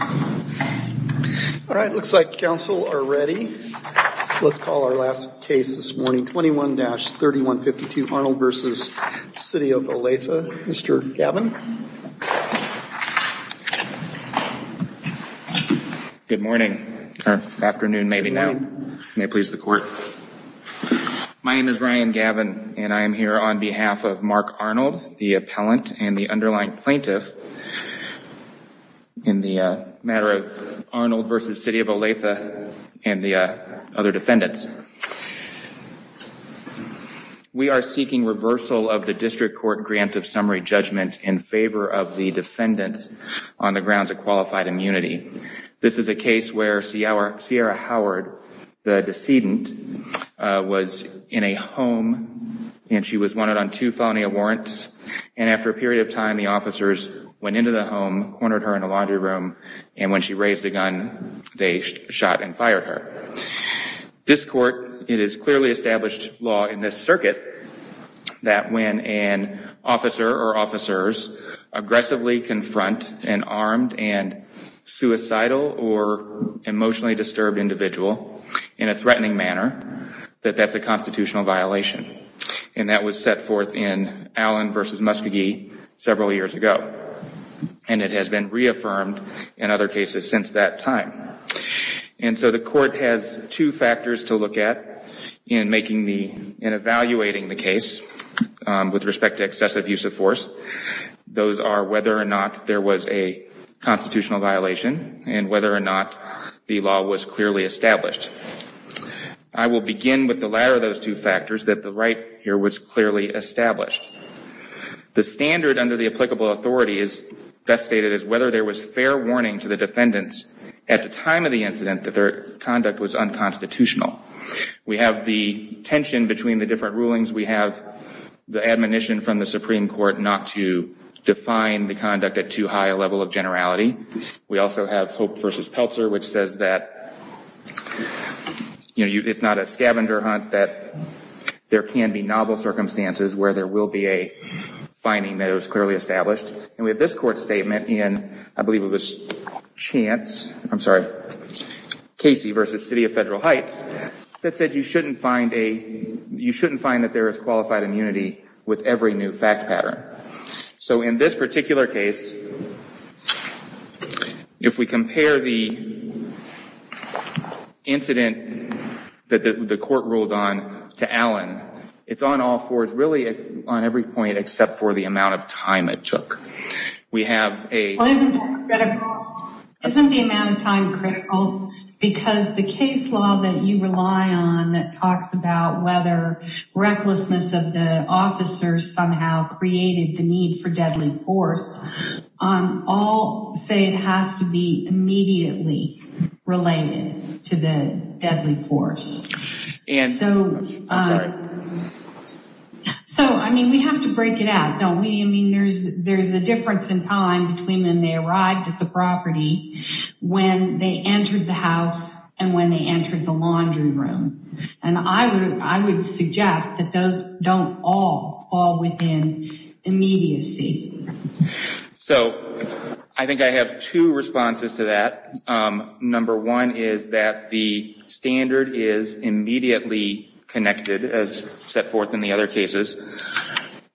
All right, looks like counsel are ready, so let's call our last case this morning, 21-3152 Arnold v. City of Olathe. Mr. Gavin. Good morning, or afternoon maybe now. May it please the court. My name is Ryan Gavin and I am here on behalf of Mark Arnold, the appellant and the underlying plaintiff in the matter of Arnold v. City of Olathe and the other defendants. We are seeking reversal of the district court grant of summary judgment in favor of the defendants on the grounds of qualified immunity. This is a case where Sierra Howard, the decedent, was in a home and she was wanted on two felony warrants. And after a period of time, the officers went into the home, cornered her in a laundry room, and when she raised a gun, they shot and fired her. This court, it is clearly established law in this circuit that when an officer or officers aggressively confront an armed and suicidal or emotionally disturbed individual in a threatening manner, that that's a constitutional violation. And that was set forth in Allen v. Muskogee several years ago. And it has been reaffirmed in other cases since that time. And so the court has two factors to look at in evaluating the case with respect to excessive use of force. Those are whether or not there was a constitutional violation and whether or not the law was clearly established. I will begin with the latter of those two factors, that the right here was clearly established. The standard under the applicable authority is best stated as whether there was fair warning to the defendants at the time of the incident that their conduct was unconstitutional. We have the tension between the different rulings. We have the admonition from the Supreme Court not to define the conduct at too high a level of generality. We also have Hope v. Peltzer, which says that it's not a scavenger hunt, that there can be novel circumstances where there will be a finding that it was clearly established. And we have this court statement in, I believe it was Chance, I'm sorry, Casey v. City of Federal Heights, that said you shouldn't find that there is qualified immunity with every new fact pattern. So in this particular case, if we compare the incident that the court ruled on to Allen, it's on all fours, really on every point except for the amount of time it took. Isn't the amount of time critical? Because the case law that you rely on that talks about whether recklessness of the officers somehow created the need for deadly force, all say it has to be immediately related to the deadly force. So, I mean, we have to break it out, don't we? I mean, there's a difference in time between when they arrived at the property, when they entered the house, and when they entered the laundry room. And I would suggest that those don't all fall within immediacy. So, I think I have two responses to that. Number one is that the standard is immediately connected, as set forth in the other cases.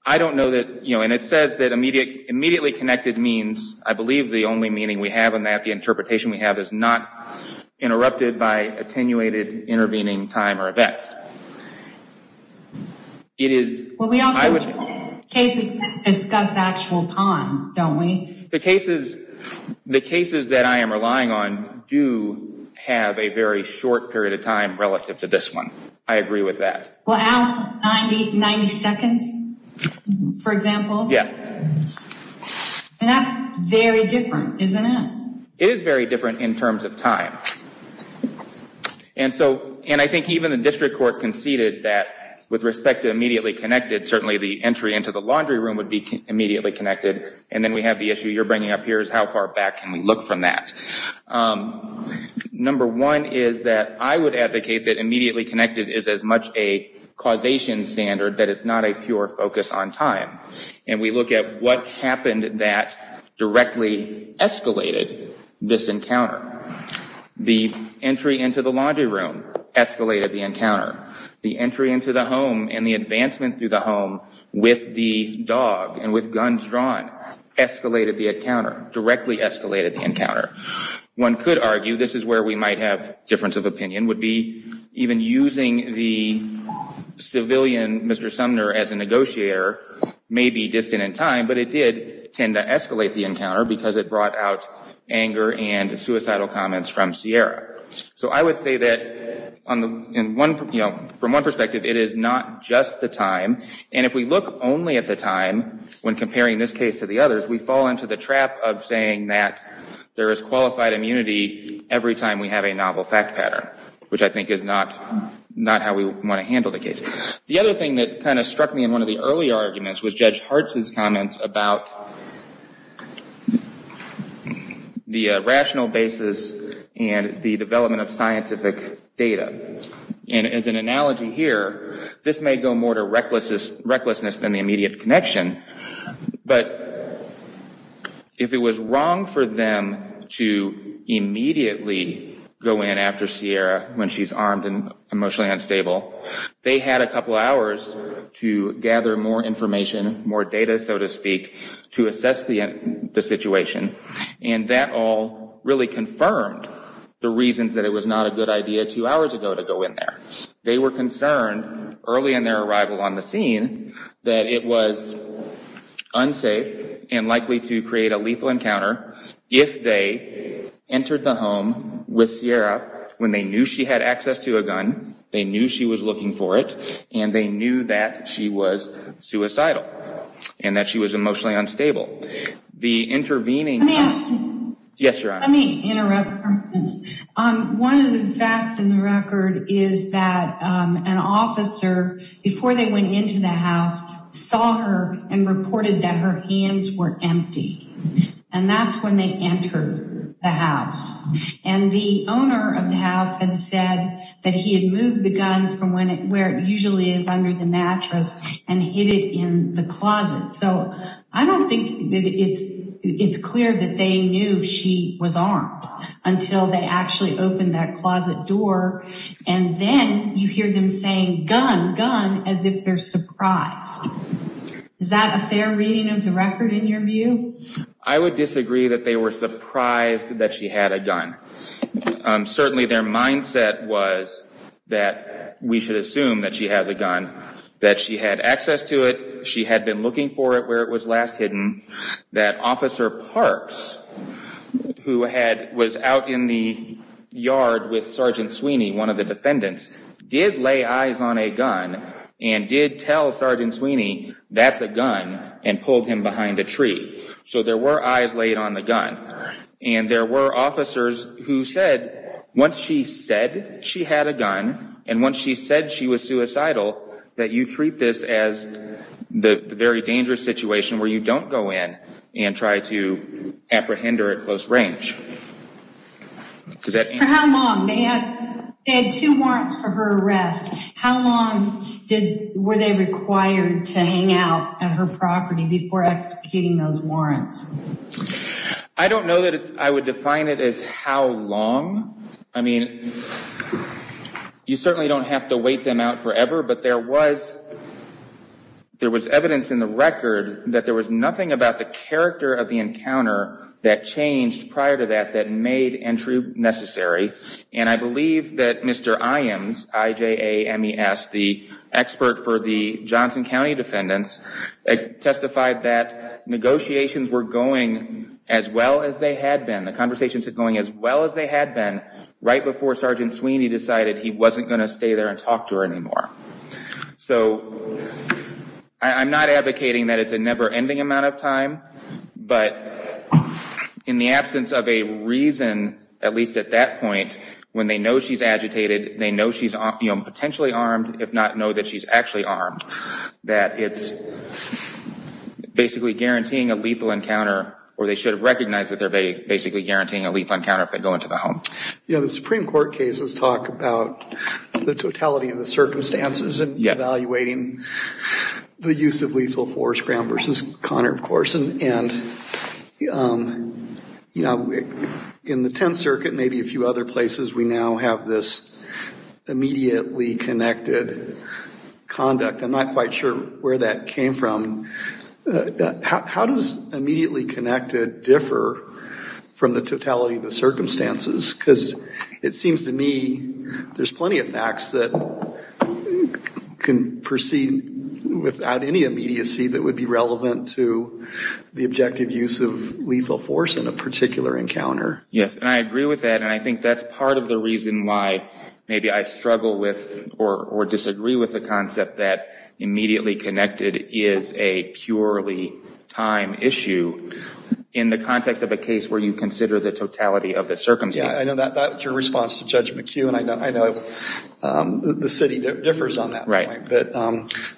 I don't know that, and it says that immediately connected means, I believe the only meaning we have in that, the interpretation we have is not interrupted by attenuated intervening time or events. Well, we also discuss actual time, don't we? The cases that I am relying on do have a very short period of time relative to this one. I agree with that. Well, Allen's 90 seconds, for example? Yes. And that's very different, isn't it? It is very different in terms of time. And I think even the district court conceded that with respect to immediately connected, certainly the entry into the laundry room would be immediately connected. And then we have the issue you're bringing up here is how far back can we look from that? Number one is that I would advocate that immediately connected is as much a causation standard that it's not a pure focus on time. And we look at what happened that directly escalated this encounter. The entry into the laundry room escalated the encounter. The entry into the home and the advancement through the home with the dog and with guns drawn escalated the encounter, directly escalated the encounter. One could argue, this is where we might have difference of opinion, would be even using the civilian Mr. Sumner as a negotiator may be distant in time, but it did tend to escalate the encounter because it brought out anger and suicidal comments from Sierra. So I would say that from one perspective, it is not just the time. And if we look only at the time when comparing this case to the others, we fall into the trap of saying that there is qualified immunity every time we have a novel fact pattern, which I think is not how we want to handle the case. The other thing that kind of struck me in one of the earlier arguments was Judge Hartz's comments about the rational basis and the development of scientific data. And as an analogy here, this may go more to recklessness than the immediate connection. But if it was wrong for them to immediately go in after Sierra when she's armed and emotionally unstable, they had a couple hours to gather more information, more data, so to speak, to assess the situation. And that all really confirmed the reasons that it was not a good idea two hours ago to go in there. They were concerned early in their arrival on the scene that it was unsafe and likely to create a lethal encounter if they entered the home with Sierra when they knew she had access to a gun, they knew she was looking for it, and they knew that she was suicidal and that she was emotionally unstable. Let me interrupt for a minute. One of the facts in the record is that an officer, before they went into the house, saw her and reported that her hands were empty. And that's when they entered the house. And the owner of the house had said that he had moved the gun from where it usually is under the mattress and hid it in the closet. So I don't think that it's clear that they knew she was armed until they actually opened that closet door, and then you hear them saying, gun, gun, as if they're surprised. Is that a fair reading of the record in your view? I would disagree that they were surprised that she had a gun. Certainly their mindset was that we should assume that she has a gun, that she had access to it, she had been looking for it where it was last hidden, that Officer Parks, who was out in the yard with Sergeant Sweeney, one of the defendants, did lay eyes on a gun and did tell Sergeant Sweeney, that's a gun, and pulled him behind a tree. So there were eyes laid on the gun. And there were officers who said, once she said she had a gun, and once she said she was suicidal, that you treat this as the very dangerous situation where you don't go in and try to apprehend her at close range. For how long? They had two warrants for her arrest. How long were they required to hang out at her property before executing those warrants? I don't know that I would define it as how long. I mean, you certainly don't have to wait them out forever, but there was evidence in the record that there was nothing about the character of the encounter that changed prior to that that made entry necessary. And I believe that Mr. Iams, I-J-A-M-E-S, the expert for the Johnson County defendants, testified that negotiations were going as well as they had been, the conversations were going as well as they had been, right before Sergeant Sweeney decided he wasn't going to stay there and talk to her anymore. So I'm not advocating that it's a never-ending amount of time, but in the absence of a reason, at least at that point, when they know she's agitated, they know she's potentially armed, if not know that she's actually armed, that it's basically guaranteeing a lethal encounter, or they should have recognized that they're basically guaranteeing a lethal encounter if they go into the home. The Supreme Court cases talk about the totality of the circumstances and evaluating the use of lethal force, Graham versus Connor, of course, and in the Tenth Circuit, maybe a few other places, we now have this immediately connected conduct. I'm not quite sure where that came from. How does immediately connected differ from the totality of the circumstances? Because it seems to me there's plenty of facts that can proceed without any immediacy that would be relevant to the objective use of lethal force in a particular encounter. Yes, and I agree with that, and I think that's part of the reason why maybe I struggle with or disagree with the concept that immediately connected is a purely time issue. In the context of a case where you consider the totality of the circumstances. Yeah, I know that's your response to Judge McHugh, and I know the city differs on that point, but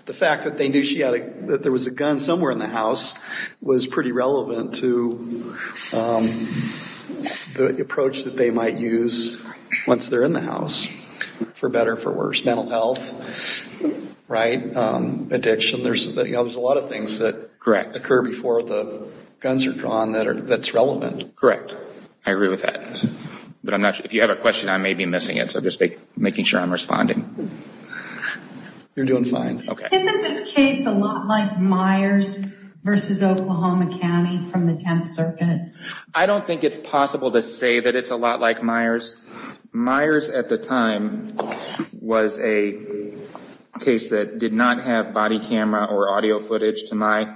the fact that there was a gun somewhere in the house was pretty relevant to the approach that they might use once they're in the house, for better or for worse, mental health, addiction, there's a lot of things that occur before the guns are drawn that's relevant. Correct. I agree with that. But if you have a question, I may be missing it, so I'm just making sure I'm responding. You're doing fine. Isn't this case a lot like Myers versus Oklahoma County from the Tenth Circuit? I don't think it's possible to say that it's a lot like Myers. Myers at the time was a case that did not have body camera or audio footage, to my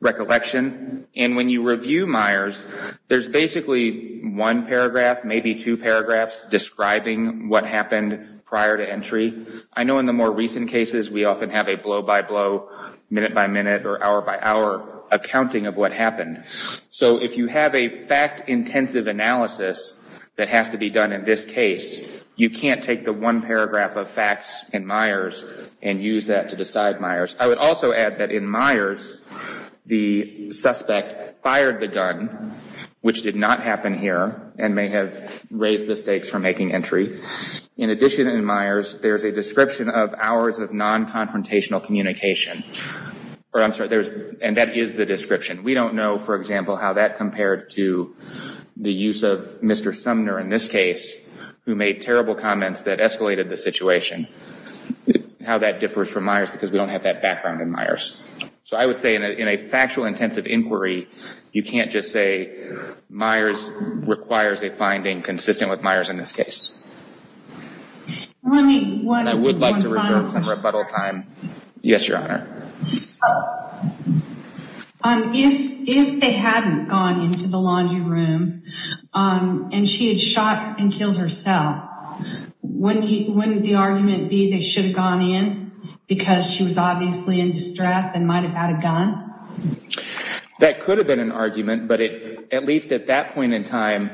recollection, and when you review Myers, there's basically one paragraph, maybe two paragraphs, describing what happened prior to entry. I know in the more recent cases we often have a blow-by-blow, minute-by-minute, or hour-by-hour accounting of what happened. So if you have a fact-intensive analysis that has to be done in this case, you can't take the one paragraph of facts in Myers and use that to decide Myers. I would also add that in Myers, the suspect fired the gun, which did not happen here, and may have raised the stakes for making entry. In addition, in Myers, there's a description of hours of non-confrontational communication. And that is the description. We don't know, for example, how that compared to the use of Mr. Sumner in this case, who made terrible comments that escalated the situation, how that differs from Myers, because we don't have that background in Myers. So I would say in a factual-intensive inquiry, you can't just say Myers requires a finding consistent with Myers in this case. I would like to reserve some rebuttal time. Yes, Your Honor. If they hadn't gone into the laundry room and she had shot and killed herself, wouldn't the argument be they should have gone in because she was obviously in distress and might have had a gun? That could have been an argument, but at least at that point in time,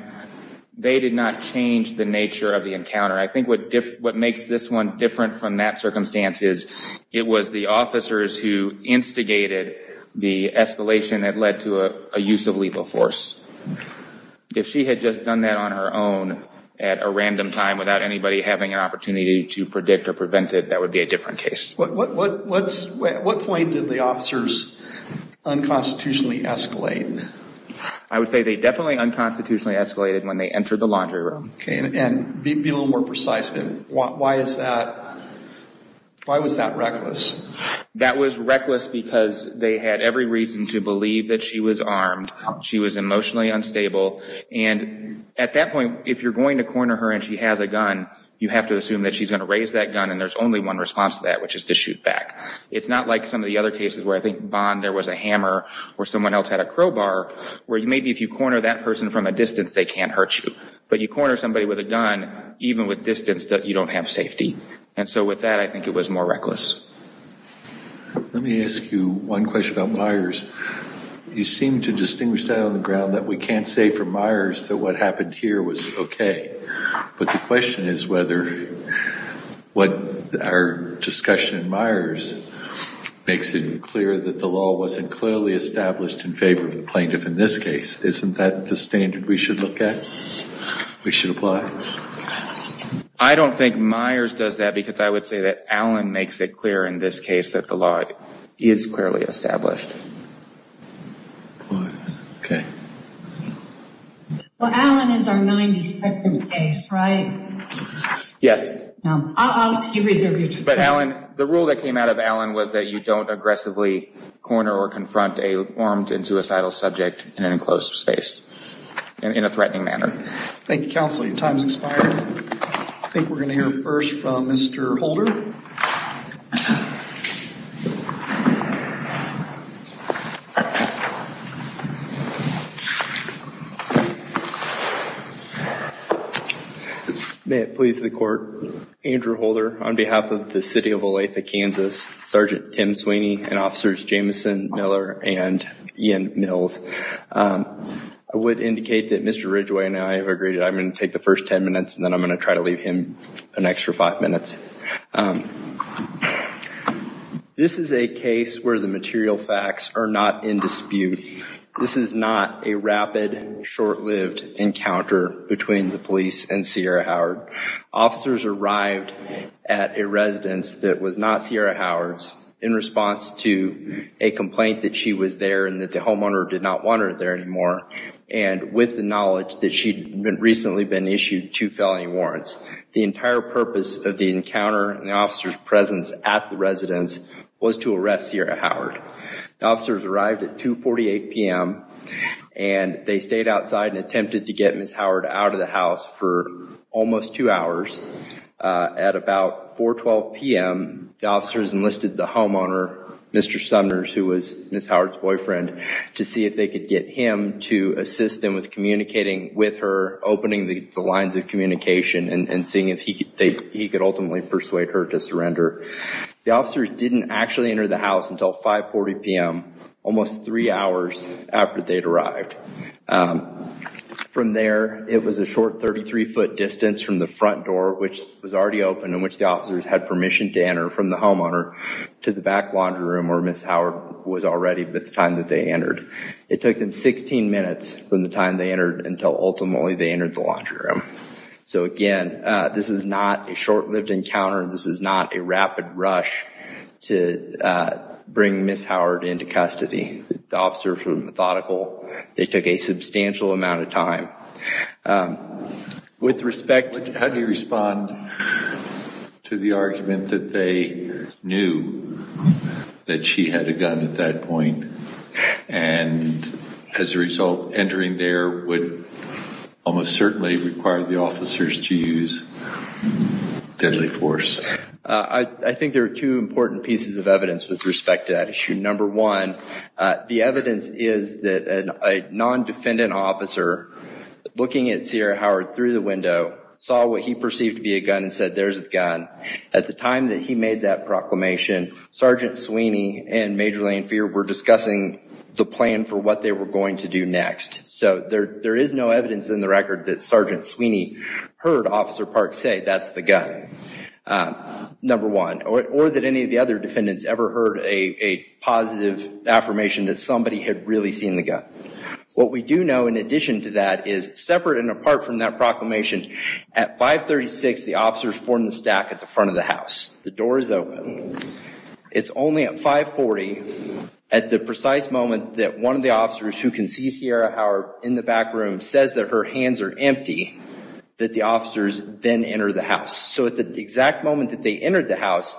they did not change the nature of the encounter. I think what makes this one different from that circumstance is, it was the officers who instigated the escalation that led to a use of lethal force. If she had just done that on her own at a random time without anybody having an opportunity to predict or prevent it, that would be a different case. At what point did the officers unconstitutionally escalate? I would say they definitely unconstitutionally escalated when they entered the laundry room. Be a little more precise. Why was that reckless? That was reckless because they had every reason to believe that she was armed. She was emotionally unstable. At that point, if you're going to corner her and she has a gun, you have to assume that she's going to raise that gun and there's only one response to that, which is to shoot back. It's not like some of the other cases where I think Bond, there was a hammer, or someone else had a crowbar, where maybe if you corner that person from a distance, they can't hurt you. But you corner somebody with a gun, even with distance, you don't have safety. And so with that, I think it was more reckless. Let me ask you one question about Myers. You seem to distinguish that on the ground that we can't say from Myers that what happened here was okay. But the question is whether what our discussion in Myers makes it clear that the law wasn't clearly established in favor of the plaintiff in this case. Isn't that the standard we should look at? We should apply? I don't think Myers does that because I would say that Allen makes it clear in this case that the law is clearly established. Okay. Well, Allen is our 92nd case, right? Yes. I'll let you reserve your time. But Allen, the rule that came out of Allen was that you don't aggressively corner or confront an armed and suicidal subject in an enclosed space, in a threatening manner. Thank you, counsel. Your time has expired. I think we're going to hear first from Mr. Holder. Thank you. May it please the court, Andrew Holder, on behalf of the City of Olathe, Kansas, Sergeant Tim Sweeney, and Officers Jameson, Miller, and Ian Mills. I would indicate that Mr. Ridgway and I have agreed that I'm going to take the first ten minutes and then I'm going to try to leave him an extra five minutes. This is a case where the material facts are not in dispute. This is not a rapid, short-lived encounter between the police and Sierra Howard. Officers arrived at a residence that was not Sierra Howard's in response to a complaint that she was there and that the homeowner did not want her there anymore, and with the knowledge that she'd recently been issued two felony warrants. The entire purpose of the encounter and the officer's presence at the residence was to arrest Sierra Howard. The officers arrived at 2.48 p.m., and they stayed outside and attempted to get Ms. Howard out of the house for almost two hours. At about 4.12 p.m., the officers enlisted the homeowner, Mr. Sumners, who was Ms. Howard's boyfriend, to see if they could get him to assist them with communicating with her, opening the lines of communication, and seeing if he could ultimately persuade her to surrender. The officers didn't actually enter the house until 5.40 p.m., almost three hours after they'd arrived. From there, it was a short 33-foot distance from the front door, which was already open, in which the officers had permission to enter from the homeowner to the back laundry room where Ms. Howard was already by the time that they entered. It took them 16 minutes from the time they entered until ultimately they entered the laundry room. So again, this is not a short-lived encounter, and this is not a rapid rush to bring Ms. Howard into custody. The officers were methodical. They took a substantial amount of time. With respect to... How do you respond to the argument that they knew that she had a gun at that point, and as a result, entering there would almost certainly require the officers to use deadly force? I think there are two important pieces of evidence with respect to that issue. Number one, the evidence is that a non-defendant officer, looking at Sierra Howard through the window, saw what he perceived to be a gun and said, At the time that he made that proclamation, Sergeant Sweeney and Major Lane Fier were discussing the plan for what they were going to do next. So there is no evidence in the record that Sergeant Sweeney heard Officer Park say, or that any of the other defendants ever heard a positive affirmation that somebody had really seen the gun. What we do know in addition to that is, separate and apart from that proclamation, at 536, the officers form the stack at the front of the house. The door is open. It's only at 540, at the precise moment that one of the officers who can see Sierra Howard in the back room, says that her hands are empty, that the officers then enter the house. So at the exact moment that they entered the house,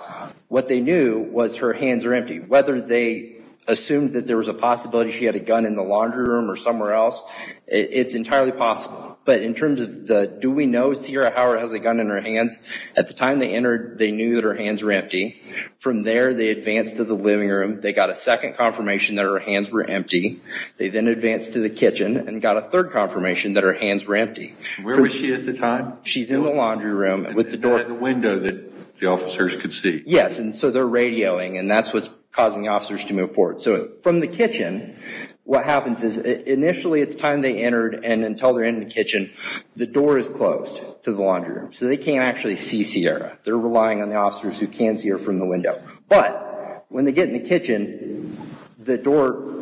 what they knew was her hands are empty. Whether they assumed that there was a possibility she had a gun in the laundry room or somewhere else, it's entirely possible. But in terms of the, do we know Sierra Howard has a gun in her hands? At the time they entered, they knew that her hands were empty. From there, they advanced to the living room. They got a second confirmation that her hands were empty. They then advanced to the kitchen and got a third confirmation that her hands were empty. Where was she at the time? She's in the laundry room with the door. In the window that the officers could see. Yes, and so they're radioing and that's what's causing the officers to move forward. So from the kitchen, what happens is initially at the time they entered and until they're in the kitchen, the door is closed to the laundry room. So they can't actually see Sierra. They're relying on the officers who can see her from the window. But when they get in the kitchen, the door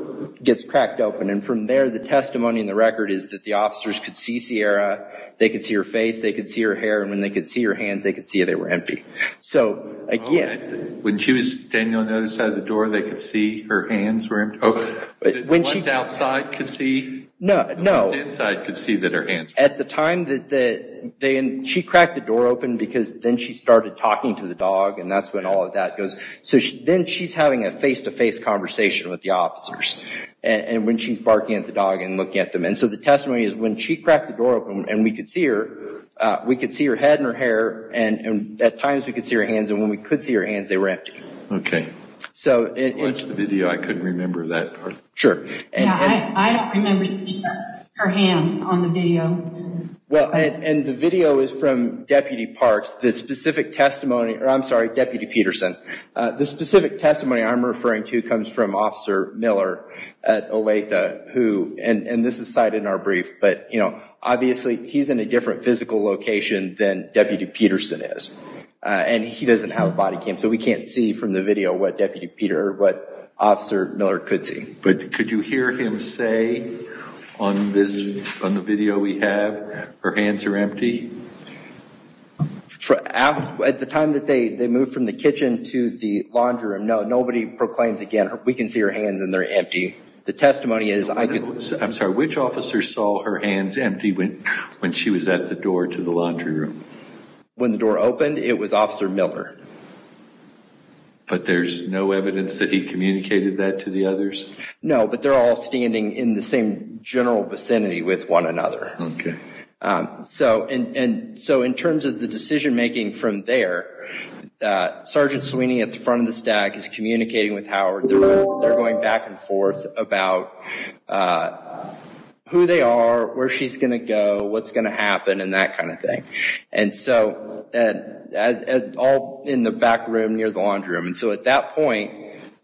gets cracked open. And from there, the testimony in the record is that the officers could see Sierra. They could see her face. They could see her hair. And when they could see her hands, they could see they were empty. When she was standing on the other side of the door, they could see her hands were empty? The ones outside could see? No. The ones inside could see that her hands were empty. At the time, she cracked the door open because then she started talking to the dog, and that's when all of that goes. So then she's having a face-to-face conversation with the officers when she's barking at the dog and looking at them. And so the testimony is when she cracked the door open and we could see her, we could see her head and her hair, and at times we could see her hands, and when we could see her hands, they were empty. Okay. I watched the video. I couldn't remember that part. Sure. Yeah, I don't remember seeing her hands on the video. Well, and the video is from Deputy Parks. The specific testimony, or I'm sorry, Deputy Peterson. The specific testimony I'm referring to comes from Officer Miller at Olathe, and this is cited in our brief. But, you know, obviously he's in a different physical location than Deputy Peterson is, and he doesn't have a body cam, so we can't see from the video what Deputy Peter or what Officer Miller could see. But could you hear him say on the video we have, her hands are empty? At the time that they moved from the kitchen to the laundry room, no, nobody proclaims again, we can see her hands and they're empty. I'm sorry, which officer saw her hands empty when she was at the door to the laundry room? When the door opened, it was Officer Miller. But there's no evidence that he communicated that to the others? No, but they're all standing in the same general vicinity with one another. Okay. So in terms of the decision making from there, Sergeant Sweeney at the front of the stack is communicating with Howard. They're going back and forth about who they are, where she's going to go, what's going to happen, and that kind of thing. And so all in the back room near the laundry room. And so at that point,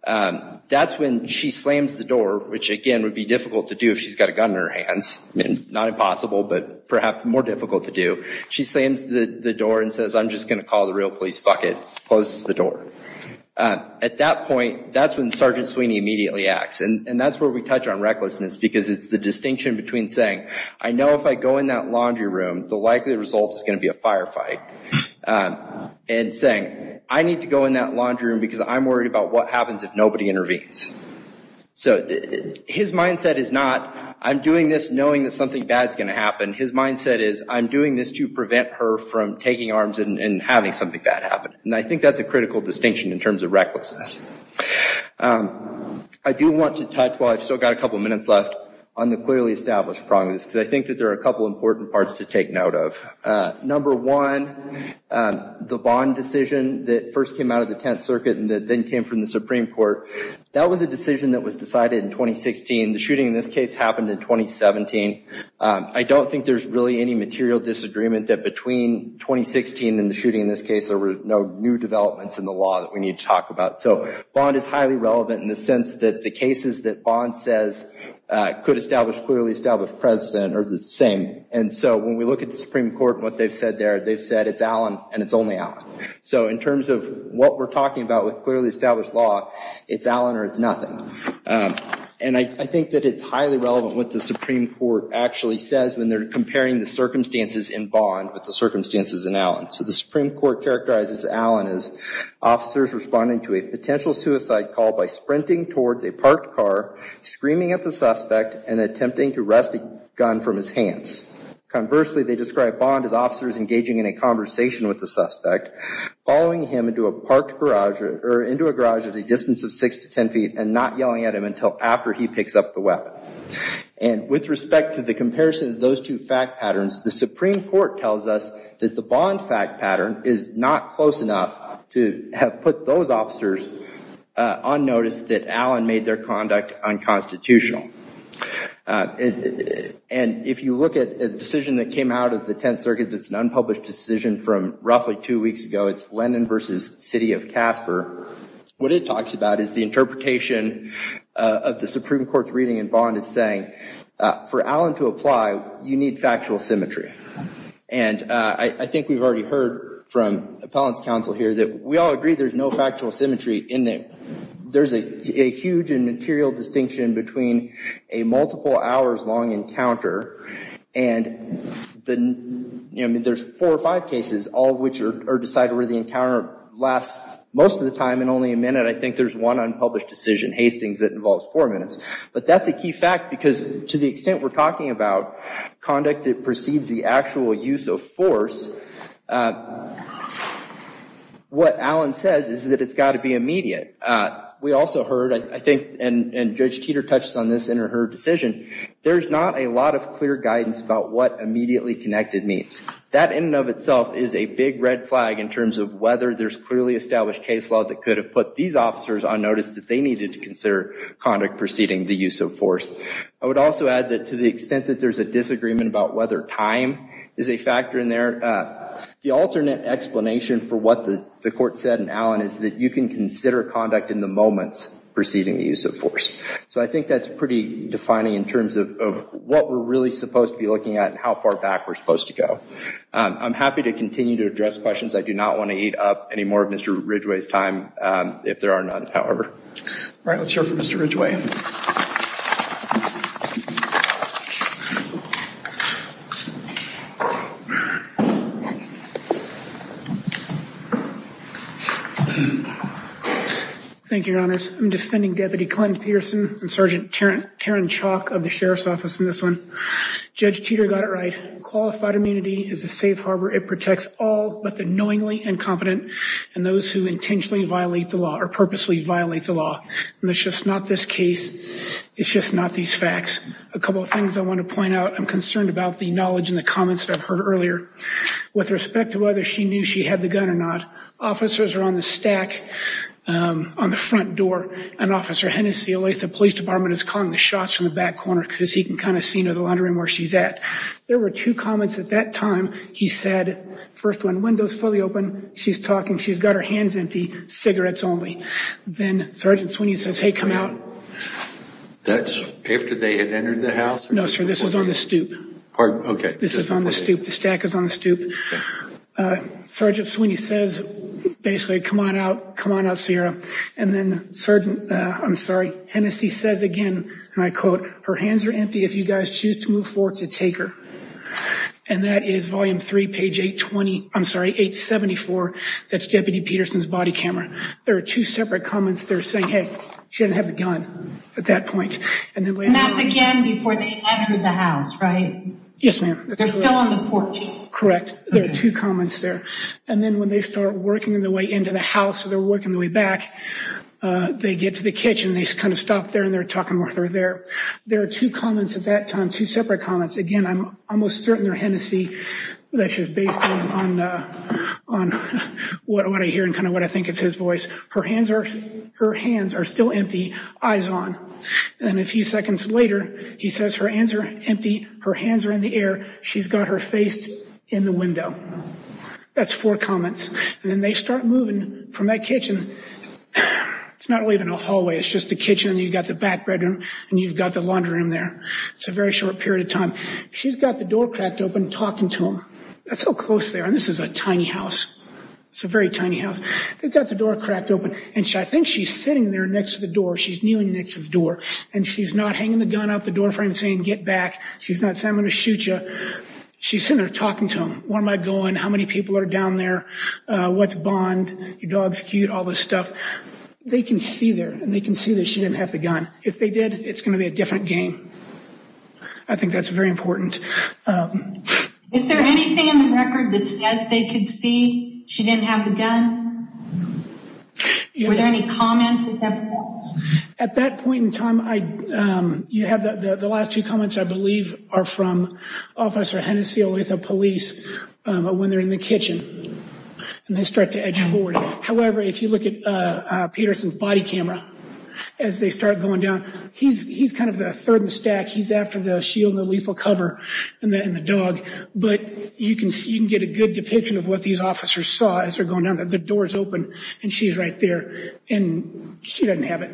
that's when she slams the door, which again would be difficult to do if she's got a gun in her hands, not impossible, but perhaps more difficult to do. She slams the door and says, I'm just going to call the real police. Fuck it, closes the door. At that point, that's when Sergeant Sweeney immediately acts. And that's where we touch on recklessness because it's the distinction between saying, I know if I go in that laundry room, the likely result is going to be a firefight. And saying, I need to go in that laundry room because I'm worried about what happens if nobody intervenes. So his mindset is not, I'm doing this knowing that something bad is going to happen. His mindset is, I'm doing this to prevent her from taking arms and having something bad happen. And I think that's a critical distinction in terms of recklessness. I do want to touch while I've still got a couple minutes left on the clearly established problems because I think that there are a couple important parts to take note of. Number one, the bond decision that first came out of the Tenth Circuit and then came from the Supreme Court, that was a decision that was decided in 2016. The shooting in this case happened in 2017. I don't think there's really any material disagreement that between 2016 and the shooting in this case, there were no new developments in the law that we need to talk about. So bond is highly relevant in the sense that the cases that bond says could establish clearly established precedent are the same. And so when we look at the Supreme Court and what they've said there, they've said it's Allen and it's only Allen. So in terms of what we're talking about with clearly established law, it's Allen or it's nothing. And I think that it's highly relevant what the Supreme Court actually says when they're comparing the circumstances in bond with the circumstances in Allen. So the Supreme Court characterizes Allen as officers responding to a potential suicide call by sprinting towards a parked car, screaming at the suspect, and attempting to wrest a gun from his hands. Conversely, they describe bond as officers engaging in a conversation with the suspect, following him into a parked garage or into a garage at a distance of six to ten feet and not yelling at him until after he picks up the weapon. And with respect to the comparison of those two fact patterns, the Supreme Court tells us that the bond fact pattern is not close enough to have put those officers on notice that Allen made their conduct unconstitutional. And if you look at a decision that came out of the Tenth Circuit, that's an unpublished decision from roughly two weeks ago, it's Lennon versus City of Casper. What it talks about is the interpretation of the Supreme Court's reading in bond is saying that for Allen to apply, you need factual symmetry. And I think we've already heard from appellant's counsel here that we all agree there's no factual symmetry in there. There's a huge and material distinction between a multiple hours long encounter and there's four or five cases, all of which are decided where the encounter lasts most of the time and only a minute. I think there's one unpublished decision, Hastings, that involves four minutes. But that's a key fact because to the extent we're talking about conduct that precedes the actual use of force, what Allen says is that it's got to be immediate. We also heard, I think, and Judge Teeter touches on this in her decision, there's not a lot of clear guidance about what immediately connected means. That in and of itself is a big red flag in terms of whether there's clearly established case law that could have put these officers on notice that they needed to consider conduct preceding the use of force. I would also add that to the extent that there's a disagreement about whether time is a factor in there, the alternate explanation for what the court said in Allen is that you can consider conduct in the moments preceding the use of force. So I think that's pretty defining in terms of what we're really supposed to be looking at and how far back we're supposed to go. I'm happy to continue to address questions. I do not want to eat up any more of Mr. Ridgway's time if there are none, however. All right, let's hear it for Mr. Ridgway. Thank you, Your Honors. I'm defending Deputy Clint Peterson and Sergeant Taryn Chalk of the Sheriff's Office in this one. Judge Teeter got it right. Qualified immunity is a safe harbor. It protects all but the knowingly incompetent and those who intentionally violate the law or purposely violate the law. And it's just not this case. It's just not these facts. A couple of things I want to point out. I'm concerned about the knowledge and the comments that I've heard earlier with respect to whether she knew she had the gun or not. Officers are on the stack on the front door. And Officer Hennessy, the police department, is calling the shots from the back corner because he can kind of see the laundry room where she's at. There were two comments at that time. He said, first one, windows fully open. She's talking. She's got her hands empty. Cigarettes only. Then Sergeant Sweeney says, hey, come out. That's after they had entered the house? No, sir. This was on the stoop. Pardon? Okay. This is on the stoop. The stack is on the stoop. Sergeant Sweeney says, basically, come on out. Come on out, Sierra. And then Sergeant, I'm sorry, Hennessy says again, and I quote, her hands are empty. If you guys choose to move forward, to take her. And that is volume three, page 820, I'm sorry, 874. That's Deputy Peterson's body camera. There are two separate comments. They're saying, hey, she didn't have the gun at that point. And that's again before they entered the house, right? Yes, ma'am. They're still on the porch. Correct. There are two comments there. And then when they start working their way into the house, so they're working their way back, they get to the kitchen. They kind of stop there and they're talking with her there. There are two comments at that time, two separate comments. Again, I'm almost certain they're Hennessy. This is based on what I hear and kind of what I think is his voice. Her hands are still empty, eyes on. And then a few seconds later, he says, her hands are empty, her hands are in the air, she's got her face in the window. That's four comments. And then they start moving from that kitchen. It's not really even a hallway. It's just the kitchen and you've got the back bedroom and you've got the laundry room there. It's a very short period of time. She's got the door cracked open talking to him. That's so close there. And this is a tiny house. It's a very tiny house. They've got the door cracked open. And I think she's sitting there next to the door. She's kneeling next to the door. And she's not hanging the gun out the door frame saying, get back. She's not saying, I'm going to shoot you. She's sitting there talking to him. Where am I going? How many people are down there? What's Bond? Your dog's cute, all this stuff. They can see there, and they can see that she didn't have the gun. If they did, it's going to be a different game. I think that's very important. Is there anything in the record that says they could see she didn't have the gun? Were there any comments? At that point in time, you have the last two comments, I believe, are from Officer Hennessy with the police when they're in the kitchen. And they start to edge forward. However, if you look at Peterson's body camera, as they start going down, he's kind of the third in the stack. He's after the shield and the lethal cover and the dog. But you can get a good depiction of what these officers saw as they're going down. The door's open, and she's right there. And she doesn't have it.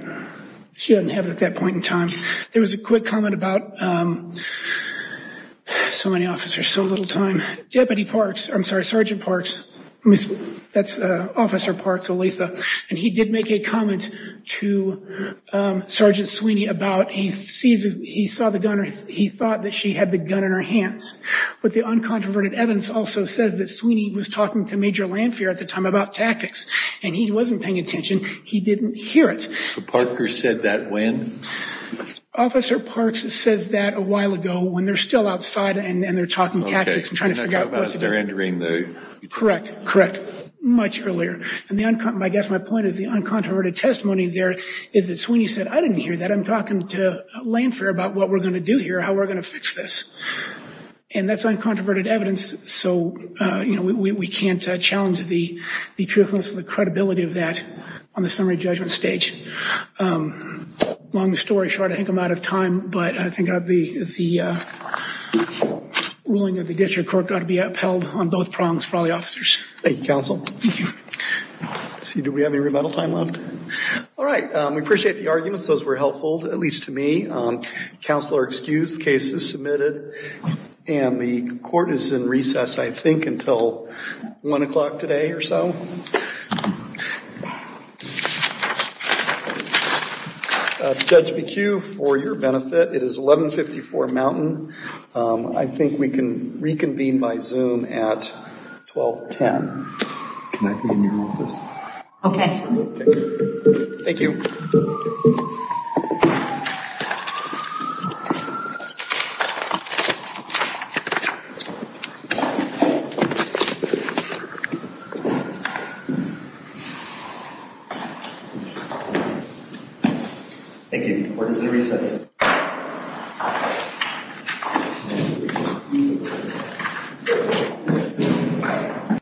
She doesn't have it at that point in time. There was a quick comment about so many officers, so little time. Deputy Parks, I'm sorry, Sergeant Parks, that's Officer Parks Olitha, and he did make a comment to Sergeant Sweeney about he saw the gun or he thought that she had the gun in her hands. But the uncontroverted evidence also says that Sweeney was talking to Major Lanphier at the time about tactics, and he wasn't paying attention. He didn't hear it. So Parker said that when? Officer Parks says that a while ago when they're still outside and they're talking tactics and trying to figure out what to do. Correct, correct, much earlier. I guess my point is the uncontroverted testimony there is that Sweeney said, I didn't hear that, I'm talking to Lanphier about what we're going to do here, how we're going to fix this. And that's uncontroverted evidence, so we can't challenge the truthfulness and the credibility of that on the summary judgment stage. Long story short, I think I'm out of time, but I think the ruling of the district court got to be upheld on both prongs for all the officers. Thank you, counsel. Thank you. Let's see, do we have any rebuttal time left? All right, we appreciate the arguments. Those were helpful, at least to me. Counselor, excused. The case is submitted. And the court is in recess, I think, until 1 o'clock today or so. Judge McHugh, for your benefit, it is 1154 Mountain. I think we can reconvene by Zoom at 1210. Can I be in your office? Okay. Thank you. Thank you. Thank you.